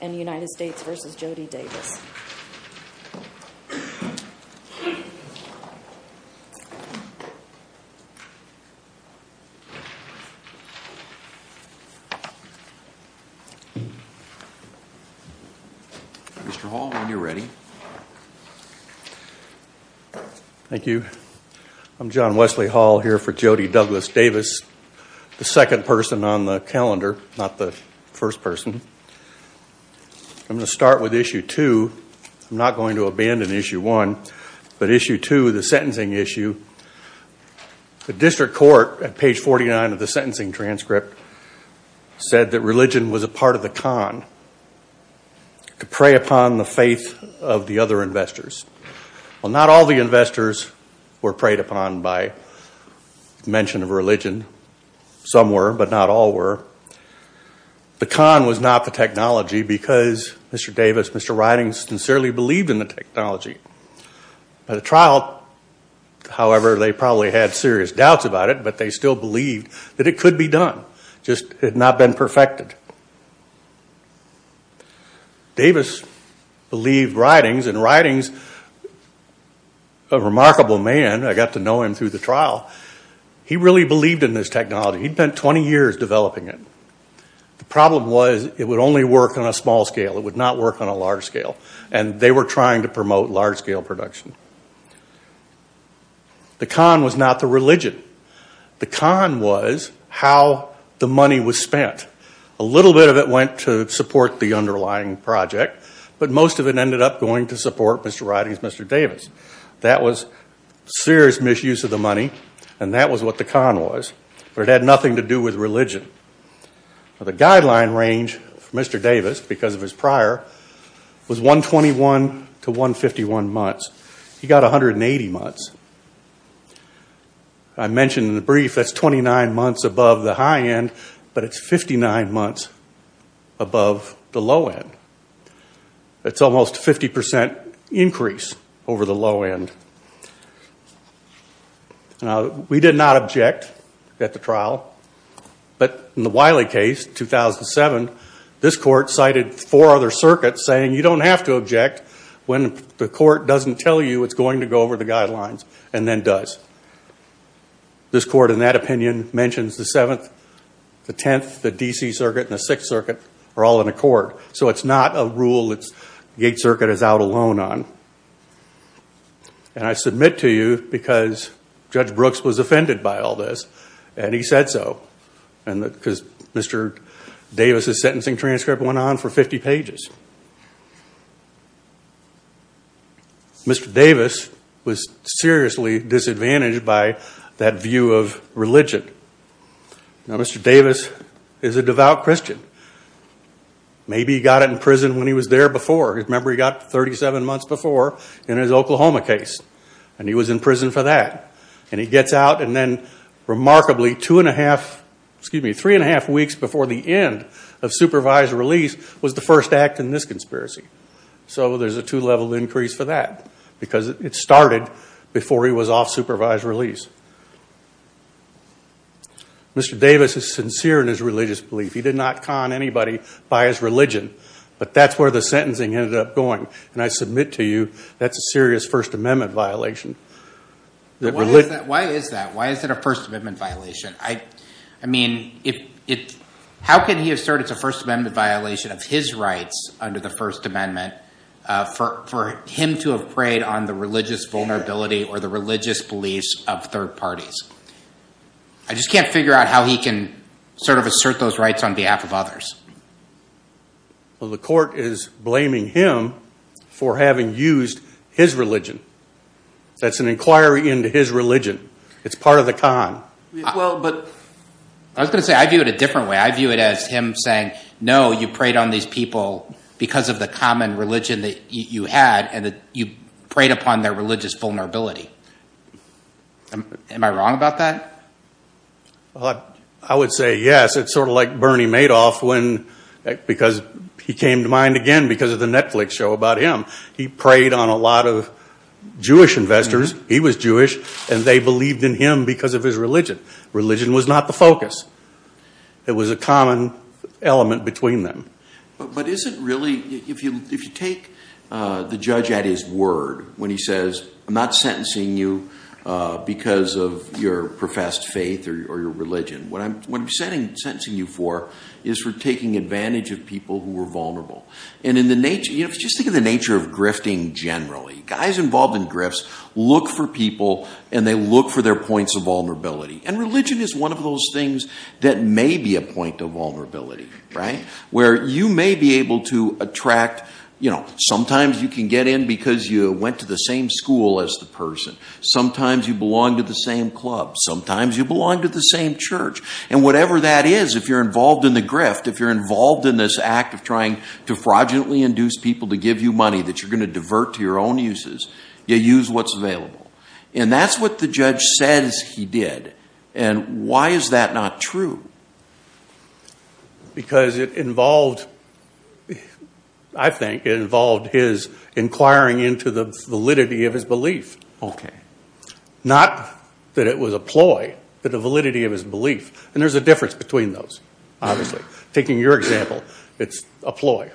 and United States v. Jody Davis. Mr. Hall, when you're ready. Thank you. I'm John Wesley Hall here for Jody Douglas Davis, the second person on the calendar, not the first person. I'm going to start with issue two. I'm not going to abandon issue one, but issue two, the sentencing issue. The district court at page 49 of the sentencing transcript said that religion was a part of the con. To prey upon the faith of the other investors. Well, not all the investors were preyed upon by mention of religion. Some were, but not all were. The con was not the technology because Mr. Davis, Mr. Ridings sincerely believed in the technology. By the trial, however, they probably had serious doubts about it, but they still believed that it could be done. It just had not been perfected. Davis believed Ridings, and Ridings, a remarkable man, I got to know him through the trial, he really believed in this technology. He'd spent 20 years developing it. The problem was it would only work on a small scale. It would not work on a large scale, and they were trying to promote large scale production. The con was not the religion. The con was how the money was spent. A little bit of it went to support the underlying project, but most of it ended up going to support Mr. Ridings, Mr. Davis. That was serious misuse of the money, and that was what the con was. But it had nothing to do with religion. The guideline range for Mr. Davis, because of his prior, was 121 to 151 months. He got 180 months. I mentioned in the brief that's 29 months above the high end, but it's 59 months above the low end. It's almost a 50% increase over the low end. We did not object at the trial, but in the Wiley case, 2007, this court cited four other circuits saying you don't have to object when the court doesn't tell you it's going to go over the guidelines, and then does. This court, in that opinion, mentions the 7th, the 10th, the D.C. Circuit, and the 6th Circuit are all in accord. So it's not a rule the 8th Circuit is out alone on. I submit to you because Judge Brooks was offended by all this, and he said so, because Mr. Davis' sentencing transcript went on for 50 pages. Mr. Davis was seriously disadvantaged by that view of religion. Mr. Davis is a devout Christian. Maybe he got in prison when he was there before. Remember, he got 37 months before in his Oklahoma case, and he was in prison for that. And he gets out, and then remarkably, three and a half weeks before the end of supervised release was the first act in this conspiracy. So there's a two-level increase for that, because it started before he was off supervised release. Mr. Davis is sincere in his religious belief. He did not con anybody by his religion, but that's where the sentencing ended up going. And I submit to you that's a serious First Amendment violation. Why is that? Why is it a First Amendment violation? I mean, how can he assert it's a First Amendment violation of his rights under the First Amendment for him to have preyed on the religious vulnerability or the religious beliefs of third parties? I just can't figure out how he can sort of assert those rights on behalf of others. Well, the court is blaming him for having used his religion. That's an inquiry into his religion. It's part of the con. I was going to say I view it a different way. I view it as him saying, no, you preyed on these people because of the common religion that you had, and you preyed upon their religious vulnerability. Am I wrong about that? I would say yes. It's sort of like Bernie Madoff because he came to mind again because of the Netflix show about him. He preyed on a lot of Jewish investors. He was Jewish, and they believed in him because of his religion. Religion was not the focus. It was a common element between them. But if you take the judge at his word when he says, I'm not sentencing you because of your professed faith or your religion, what I'm sentencing you for is for taking advantage of people who are vulnerable. Just think of the nature of grifting generally. Guys involved in grifts look for people, and they look for their points of vulnerability. And religion is one of those things that may be a point of vulnerability. Where you may be able to attract, you know, sometimes you can get in because you went to the same school as the person. Sometimes you belong to the same club. Sometimes you belong to the same church. And whatever that is, if you're involved in the grift, if you're involved in this act of trying to fraudulently induce people to give you money that you're going to divert to your own uses, you use what's available. And that's what the judge says he did. And why is that not true? Because it involved, I think, it involved his inquiring into the validity of his belief. Okay. Not that it was a ploy, but the validity of his belief. And there's a difference between those, obviously. Taking your example, it's a ploy.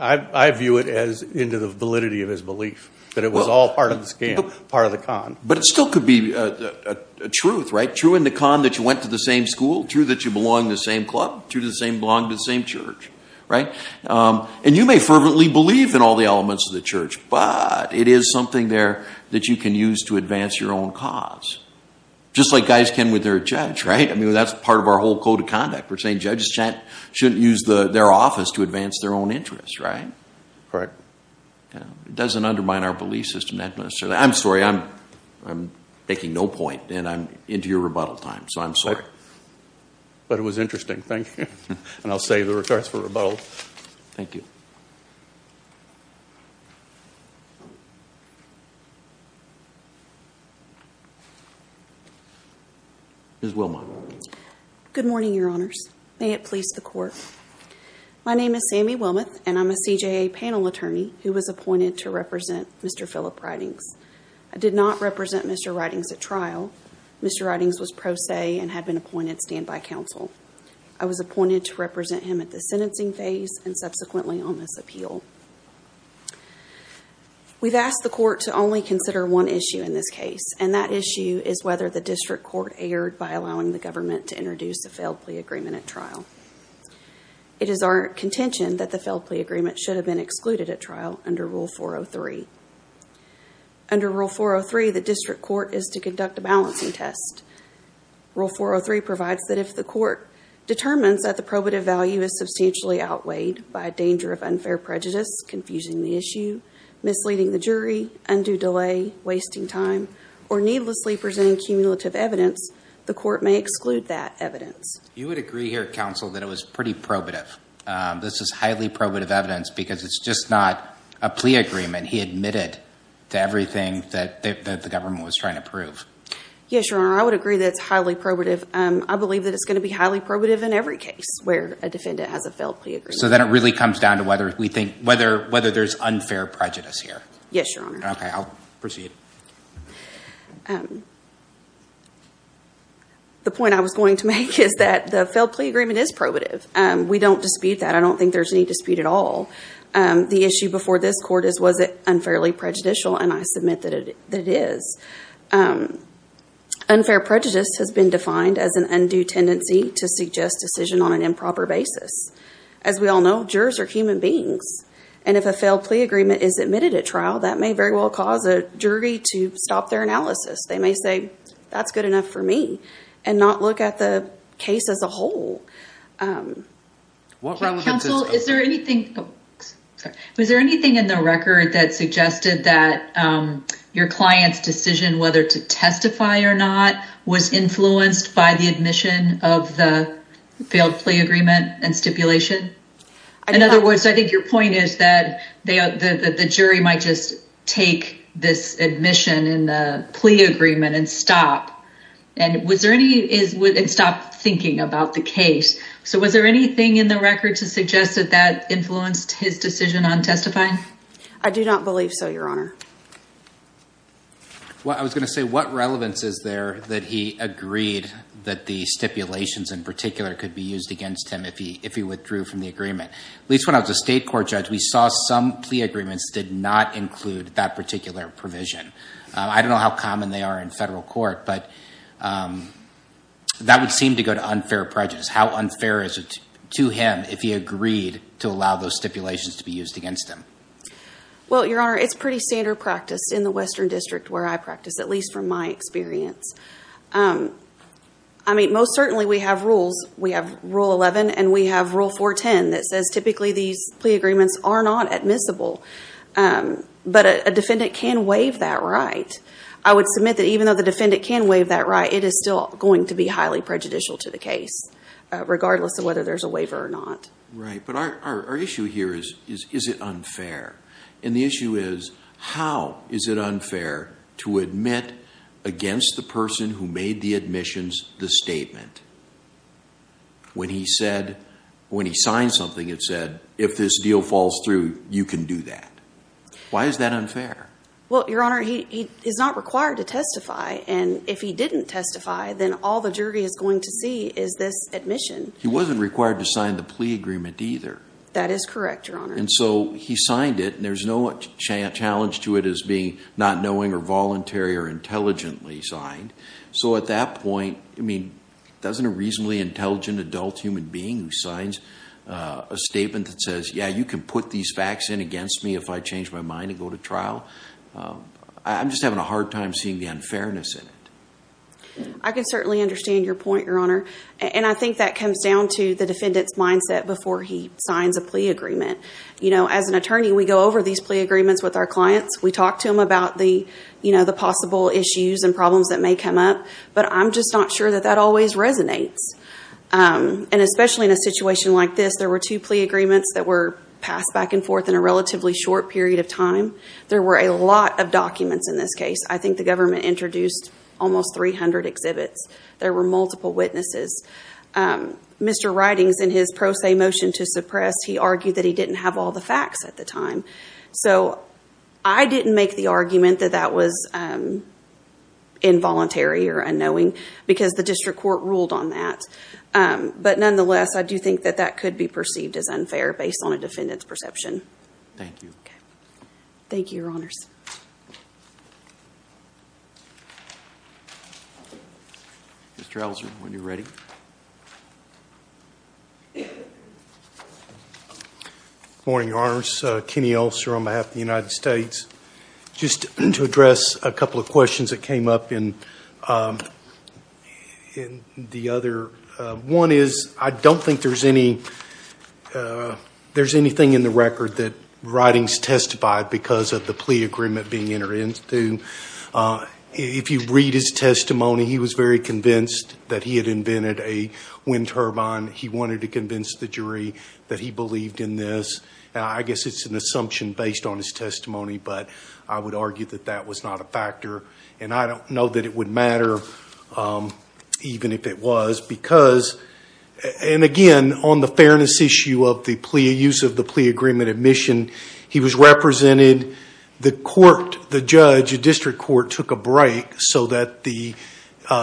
I view it as into the validity of his belief that it was all part of the scam, part of the con. But it still could be a truth, right? True in the con that you went to the same school. True that you belong to the same club. True that you belong to the same church. Right? And you may fervently believe in all the elements of the church, but it is something there that you can use to advance your own cause. Just like guys can with their judge, right? I mean, that's part of our whole code of conduct. We're saying judges shouldn't use their office to advance their own interests, right? Right. It doesn't undermine our belief system that much. I'm sorry. I'm making no point, and I'm into your rebuttal time, so I'm sorry. But it was interesting. Thank you. And I'll save the regards for rebuttal. Thank you. Ms. Wilmot. Good morning, Your Honors. May it please the Court. My name is Sammy Wilmot, and I'm a CJA panel attorney who was appointed to represent Mr. Phillip Ridings. I did not represent Mr. Ridings at trial. Mr. Ridings was pro se and had been appointed standby counsel. I was appointed to represent him at the sentencing phase and subsequently on this appeal. We've asked the Court to only consider one issue in this case, and that issue is whether the district court erred by allowing the government to introduce a failed plea agreement at trial. It is our contention that the failed plea agreement should have been excluded at trial under Rule 403. Under Rule 403, the district court is to conduct a balancing test. Rule 403 provides that if the court determines that the probative value is substantially outweighed by a danger of unfair prejudice, confusing the issue, misleading the jury, undue delay, wasting time, or needlessly presenting cumulative evidence, the court may exclude that evidence. You would agree here, counsel, that it was pretty probative. This is highly probative evidence because it's just not a plea agreement he admitted to everything that the government was trying to prove. Yes, Your Honor, I would agree that it's highly probative. I believe that it's going to be highly probative in every case where a defendant has a failed plea agreement. So then it really comes down to whether there's unfair prejudice here. Yes, Your Honor. Okay, I'll proceed. The point I was going to make is that the failed plea agreement is probative. We don't dispute that. I don't think there's any dispute at all. The issue before this court is was it unfairly prejudicial, and I submit that it is. Unfair prejudice has been defined as an undue tendency to suggest decision on an improper basis. As we all know, jurors are human beings, and if a failed plea agreement is admitted at trial, that may very well cause a jury to stop their analysis. They may say, that's good enough for me, and not look at the case as a whole. Counsel, is there anything in the record that suggested that your client's decision whether to testify or not was influenced by the admission of the failed plea agreement and stipulation? In other words, I think your point is that the jury might just take this admission in the plea agreement and stop thinking about the case. So was there anything in the record to suggest that that influenced his decision on testifying? I do not believe so, Your Honor. Well, I was going to say what relevance is there that he agreed that the stipulations in particular could be used against him if he withdrew from the agreement? At least when I was a state court judge, we saw some plea agreements did not include that particular provision. I don't know how common they are in federal court, but that would seem to go to unfair prejudice. How unfair is it to him if he agreed to allow those stipulations to be used against him? Well, Your Honor, it's pretty standard practice in the Western District where I practice, at least from my experience. I mean, most certainly we have rules. We have Rule 11 and we have Rule 410 that says typically these plea agreements are not admissible, but a defendant can waive that right. I would submit that even though the defendant can waive that right, it is still going to be highly prejudicial to the case, regardless of whether there's a waiver or not. Right, but our issue here is, is it unfair? And the issue is, how is it unfair to admit against the person who made the admissions the statement? When he said, when he signed something, it said, if this deal falls through, you can do that. Why is that unfair? Well, Your Honor, he is not required to testify, and if he didn't testify, then all the jury is going to see is this admission. He wasn't required to sign the plea agreement either. That is correct, Your Honor. And so he signed it, and there's no challenge to it as being not knowing or voluntary or intelligently signed. So at that point, I mean, doesn't a reasonably intelligent adult human being who signs a statement that says, yeah, you can put these facts in against me if I change my mind and go to trial, I'm just having a hard time seeing the unfairness in it. I can certainly understand your point, Your Honor, and I think that comes down to the defendant's mindset before he signs a plea agreement. As an attorney, we go over these plea agreements with our clients. We talk to them about the possible issues and problems that may come up, but I'm just not sure that that always resonates. And especially in a situation like this, there were two plea agreements that were passed back and forth in a relatively short period of time. There were a lot of documents in this case. I think the government introduced almost 300 exhibits. There were multiple witnesses. Mr. Ridings, in his pro se motion to suppress, he argued that he didn't have all the facts at the time. So I didn't make the argument that that was involuntary or unknowing because the district court ruled on that. But nonetheless, I do think that that could be perceived as unfair based on a defendant's perception. Thank you. Okay. Thank you, Your Honors. Thank you. Mr. Elser, when you're ready. Good morning, Your Honors. Kenny Elser on behalf of the United States. Just to address a couple of questions that came up in the other. One is, I don't think there's anything in the record that Ridings testified because of the plea agreement being entered into. If you read his testimony, he was very convinced that he had invented a wind turbine. He wanted to convince the jury that he believed in this. I guess it's an assumption based on his testimony, but I would argue that that was not a factor. And I don't know that it would matter even if it was because, and again, on the fairness issue of the plea, use of the plea agreement admission, he was represented. The court, the judge, the district court took a break so that the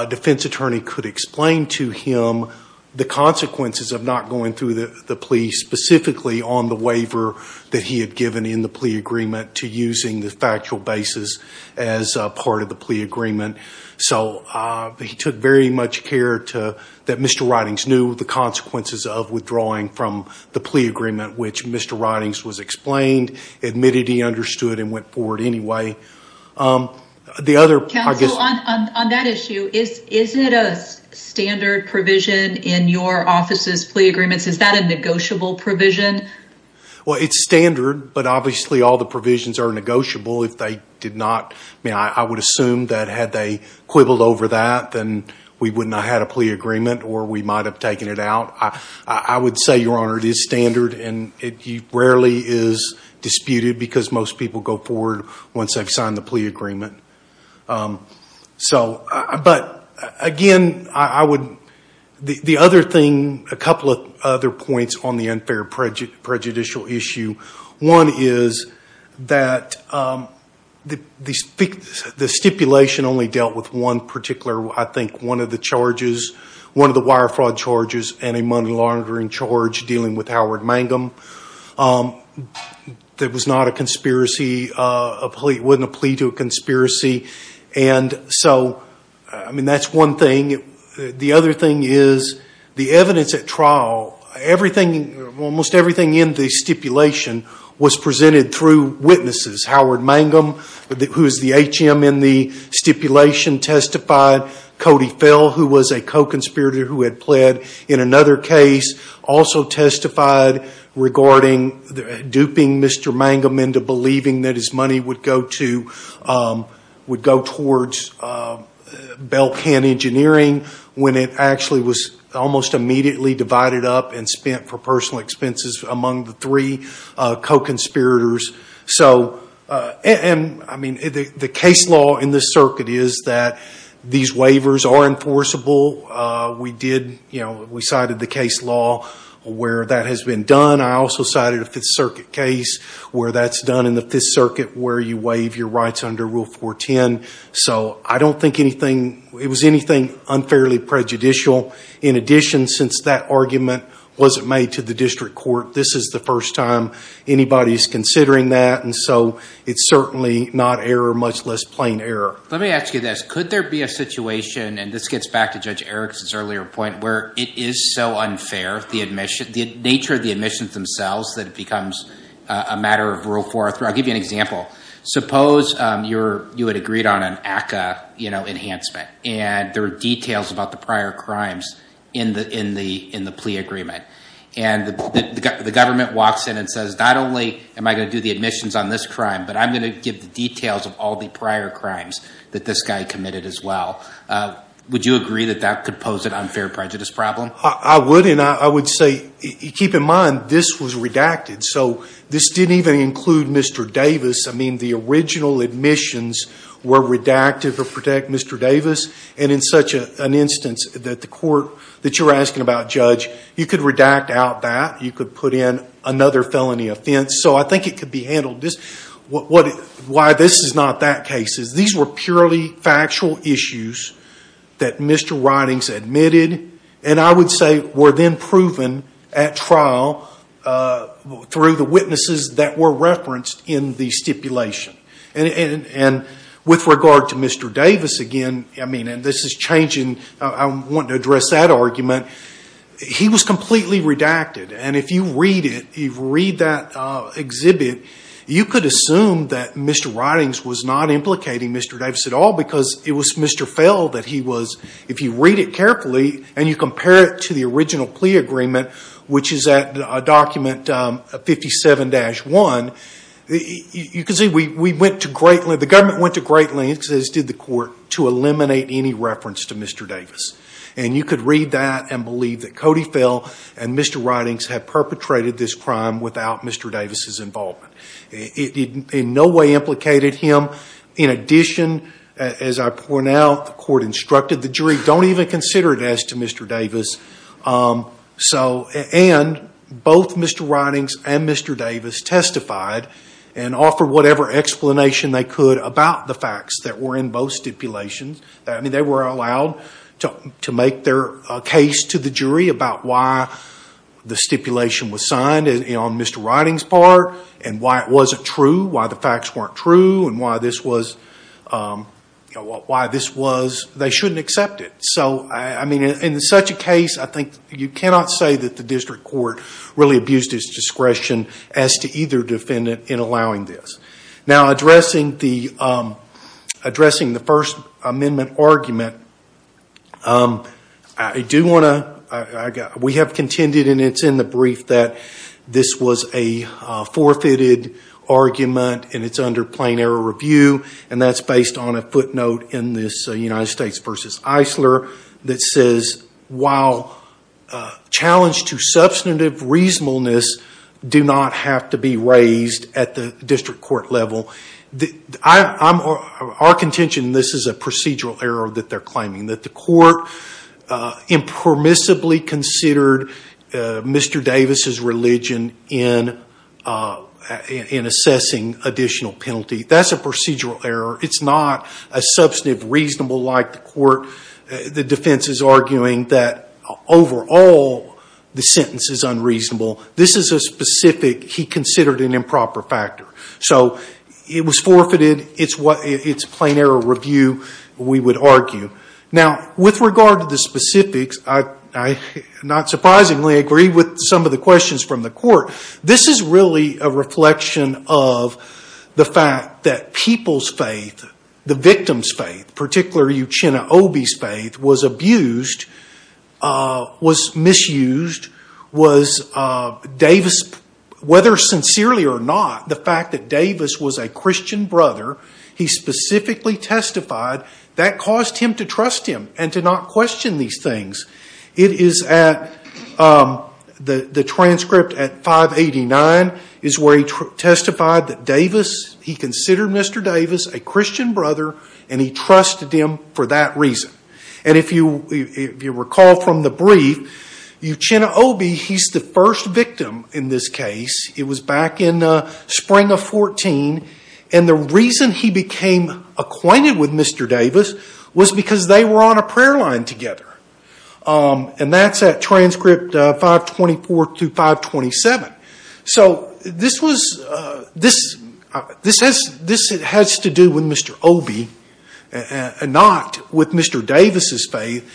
defense attorney could explain to him the consequences of not going through the plea specifically on the waiver that he had given in the plea agreement to using the factual basis as part of the plea agreement. So he took very much care that Mr. Ridings knew the consequences of withdrawing from the plea agreement, which Mr. Ridings was explained, admitted he understood and went forward anyway. The other- Counsel, on that issue, is it a standard provision in your office's plea agreements? Is that a negotiable provision? Well, it's standard, but obviously all the provisions are negotiable if they did not- I mean, I would assume that had they quibbled over that, then we would not have had a plea agreement or we might have taken it out. I would say, Your Honor, it is standard and it rarely is disputed because most people go forward once they've signed the plea agreement. But again, I would- the other thing, a couple of other points on the unfair prejudicial issue. One is that the stipulation only dealt with one particular, I think, one of the charges, one of the wire fraud charges and a money laundering charge dealing with Howard Mangum. That was not a conspiracy, wasn't a plea to a conspiracy. And so, I mean, that's one thing. The other thing is the evidence at trial, everything, almost everything in the stipulation was presented through witnesses. Howard Mangum, who is the H.M. in the stipulation, testified. Cody Fell, who was a co-conspirator who had pled in another case, also testified regarding duping Mr. Mangum into believing that his money would go to, would go towards Bell Can Engineering when it actually was almost immediately divided up and spent for personal expenses among the three co-conspirators. So, and, I mean, the case law in this circuit is that these waivers are enforceable. We did, you know, we cited the case law where that has been done. I also cited a Fifth Circuit case where that's done in the Fifth Circuit where you waive your rights under Rule 410. So I don't think anything, it was anything unfairly prejudicial. In addition, since that argument wasn't made to the district court, this is the first time anybody is considering that, and so it's certainly not error, much less plain error. Let me ask you this. Could there be a situation, and this gets back to Judge Erikson's earlier point, where it is so unfair, the nature of the admissions themselves, that it becomes a matter of Rule 403? I'll give you an example. Suppose you had agreed on an ACCA, you know, enhancement, and there are details about the prior crimes in the plea agreement. And the government walks in and says, not only am I going to do the admissions on this crime, but I'm going to give the details of all the prior crimes that this guy committed as well. Would you agree that that could pose an unfair prejudice problem? I would, and I would say keep in mind this was redacted, so this didn't even include Mr. Davis. I mean, the original admissions were redacted to protect Mr. Davis, and in such an instance that the court that you're asking about, Judge, you could redact out that, you could put in another felony offense. So I think it could be handled. Why this is not that case is these were purely factual issues that Mr. Ridings admitted, and I would say were then proven at trial through the witnesses that were referenced in the stipulation. And with regard to Mr. Davis again, I mean, and this is changing. I want to address that argument. He was completely redacted, and if you read it, if you read that exhibit, you could assume that Mr. Ridings was not implicating Mr. Davis at all because it was Mr. Fell that he was. If you read it carefully and you compare it to the original plea agreement, which is at document 57-1, you can see we went to great lengths, the government went to great lengths, as did the court, to eliminate any reference to Mr. Davis. And you could read that and believe that Cody Fell and Mr. Ridings had perpetrated this crime without Mr. Davis' involvement. It in no way implicated him. In addition, as I point out, the court instructed the jury, don't even consider it as to Mr. Davis. And both Mr. Ridings and Mr. Davis testified and offered whatever explanation they could about the facts that were in both stipulations. They were allowed to make their case to the jury about why the stipulation was signed on Mr. Ridings' part and why it wasn't true, why the facts weren't true, and why they shouldn't accept it. In such a case, I think you cannot say that the district court really abused its discretion as to either defendant in allowing this. Now, addressing the First Amendment argument, we have contended, and it's in the brief, that this was a forfeited argument and it's under plain error review. And that's based on a footnote in this United States v. Eisler that says, while challenge to substantive reasonableness do not have to be raised at the district court level. Our contention, and this is a procedural error that they're claiming, that the court impermissibly considered Mr. Davis' religion in assessing additional penalty. That's a procedural error. It's not a substantive reasonable like the court. The defense is arguing that, overall, the sentence is unreasonable. This is a specific he considered an improper factor. So, it was forfeited. It's plain error review, we would argue. Now, with regard to the specifics, I, not surprisingly, agree with some of the questions from the court. This is really a reflection of the fact that people's faith, the victim's faith, particularly Uchenna Obey's faith, was abused, was misused. Was Davis, whether sincerely or not, the fact that Davis was a Christian brother, he specifically testified that caused him to trust him and to not question these things. It is at, the transcript at 589 is where he testified that Davis, he considered Mr. Davis a Christian brother and he trusted him for that reason. And if you recall from the brief, Uchenna Obey, he's the first victim in this case. It was back in the spring of 14, and the reason he became acquainted with Mr. Davis was because they were on a prayer line together. And that's at transcript 524 through 527. So this was, this has to do with Mr. Obey, not with Mr. Davis' faith.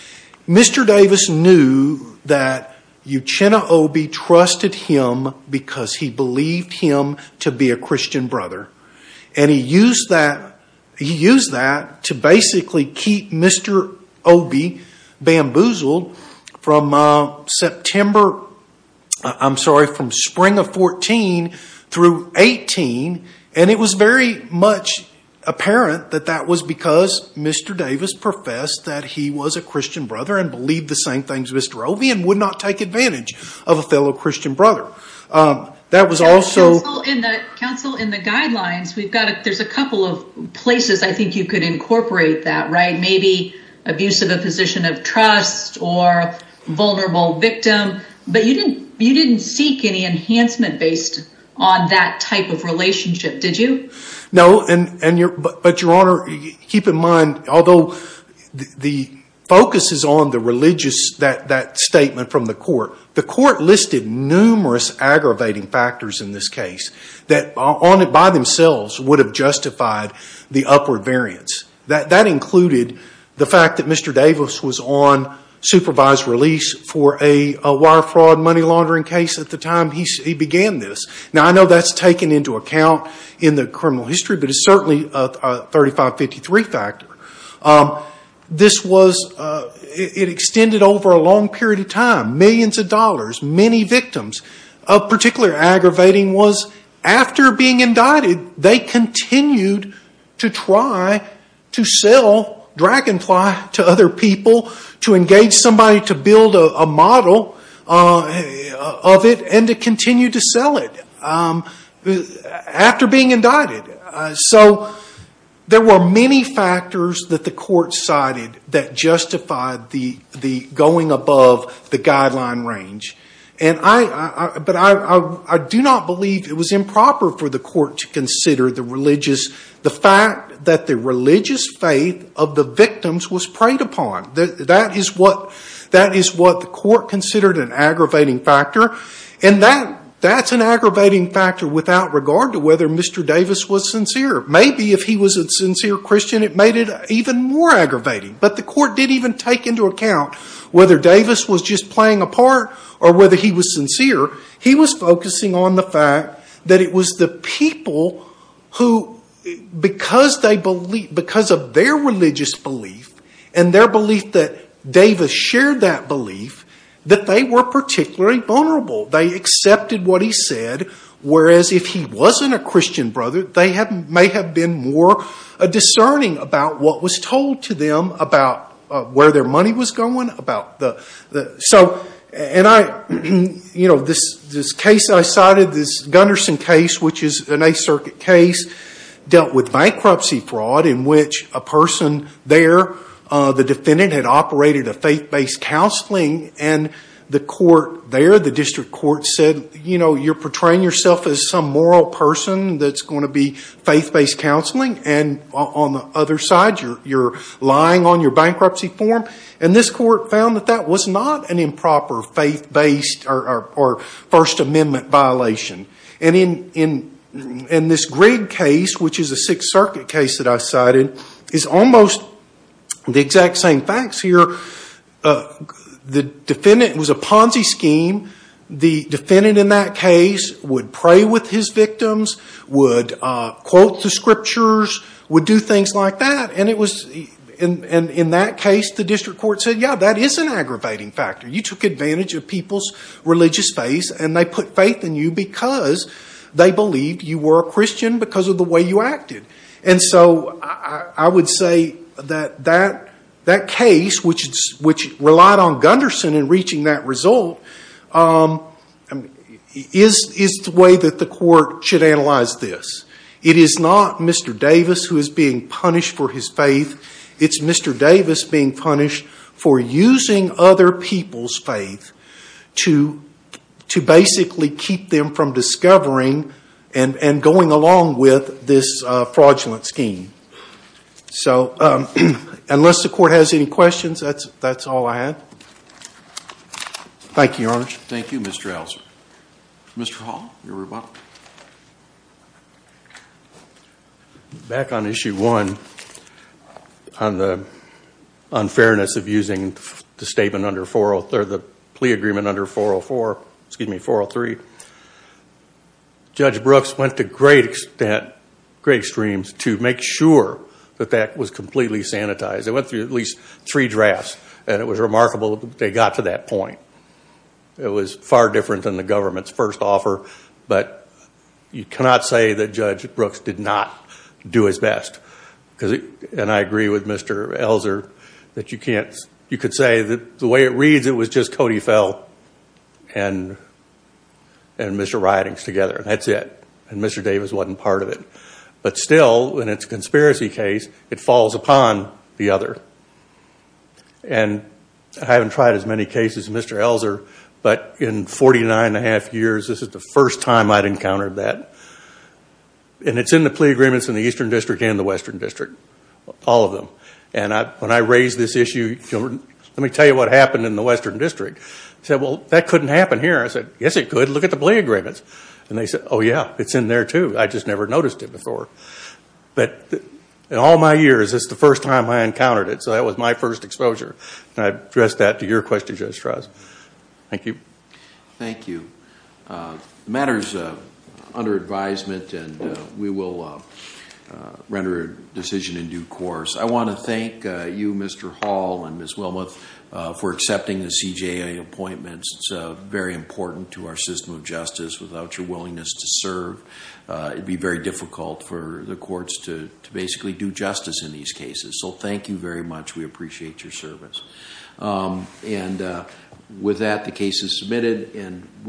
Mr. Davis knew that Uchenna Obey trusted him because he believed him to be a Christian brother. And he used that to basically keep Mr. Obey bamboozled from September, I'm sorry, from spring of 14 through 18. And it was very much apparent that that was because Mr. Davis professed that he was a Christian brother and believed the same things Mr. Obey and would not take advantage of a fellow Christian brother. That was also... Counsel, in the guidelines, we've got, there's a couple of places I think you could incorporate that, right? Maybe abuse of a position of trust or vulnerable victim, but you didn't seek any enhancement based on that type of relationship, did you? No, but Your Honor, keep in mind, although the focus is on the religious, that statement from the court, the court listed numerous aggravating factors in this case that by themselves would have justified the upward variance. That included the fact that Mr. Davis was on supervised release for a wire fraud money laundering case at the time he began this. Now, I know that's taken into account in the criminal history, but it's certainly a 3553 factor. This was... It extended over a long period of time. Millions of dollars, many victims. Particularly aggravating was after being indicted, they continued to try to sell Dragonfly to other people, to engage somebody to build a model of it, and to continue to sell it after being indicted. So there were many factors that the court cited that justified the going above the guideline range. But I do not believe it was improper for the court to consider the religious... the fact that the religious faith of the victims was preyed upon. That is what the court considered an aggravating factor. And that's an aggravating factor without regard to whether Mr. Davis was sincere. Maybe if he was a sincere Christian, it made it even more aggravating. But the court did even take into account whether Davis was just playing a part or whether he was sincere. He was focusing on the fact that it was the people who, because of their religious belief and their belief that Davis shared that belief, that they were particularly vulnerable. They accepted what he said, whereas if he wasn't a Christian brother, they may have been more discerning about what was told to them about where their money was going, about the... So, and I... You know, this case I cited, this Gunderson case, which is an Eighth Circuit case, dealt with bankruptcy fraud in which a person there, the defendant had operated a faith-based counseling, and the court there, the district court, said, you know, you're portraying yourself as some moral person that's going to be faith-based counseling, and on the other side, you're lying on your bankruptcy form. And this court found that that was not an improper faith-based or First Amendment violation. And in this Grigg case, which is a Sixth Circuit case that I cited, is almost the exact same facts here. The defendant was a Ponzi scheme. The defendant in that case would pray with his victims, would quote the scriptures, would do things like that. And in that case, the district court said, yeah, that is an aggravating factor. You took advantage of people's religious faith, and they put faith in you because they believed you were a Christian because of the way you acted. And so I would say that that case, which relied on Gunderson in reaching that result, is the way that the court should analyze this. It is not Mr. Davis who is being punished for his faith. It's Mr. Davis being punished for using other people's faith to basically keep them from discovering and going along with this fraudulent scheme. So unless the court has any questions, that's all I have. Thank you, Your Honor. Thank you, Mr. Elser. Mr. Hall, your rebuttal. Back on Issue 1, on the unfairness of using the plea agreement under 403, Judge Brooks went to great extremes to make sure that that was completely sanitized. They went through at least three drafts, and it was remarkable that they got to that point. It was far different than the government's first offer, but you cannot say that Judge Brooks did not do his best. And I agree with Mr. Elser that you can't, you could say that the way it reads, it was just Cody Fell and Mr. Ridings together, and that's it. And Mr. Davis wasn't part of it. But still, in its conspiracy case, it falls upon the other. And I haven't tried as many cases as Mr. Elser, but in 49 and a half years, this is the first time I'd encountered that. And it's in the plea agreements in the Eastern District and the Western District, all of them. And when I raised this issue, let me tell you what happened in the Western District. I said, well, that couldn't happen here. I said, yes, it could. Look at the plea agreements. And they said, oh, yeah, it's in there, too. I just never noticed it before. But in all my years, it's the first time I encountered it, so that was my first exposure. And I address that to your question, Judge Strauss. Thank you. Thank you. The matter is under advisement, and we will render a decision in due course. I want to thank you, Mr. Hall and Ms. Wilmoth, for accepting the CJA appointments. It's very important to our system of justice. Without your willingness to serve, it would be very difficult for the courts to basically do justice in these cases. So thank you very much. We appreciate your service. And with that, the case is submitted.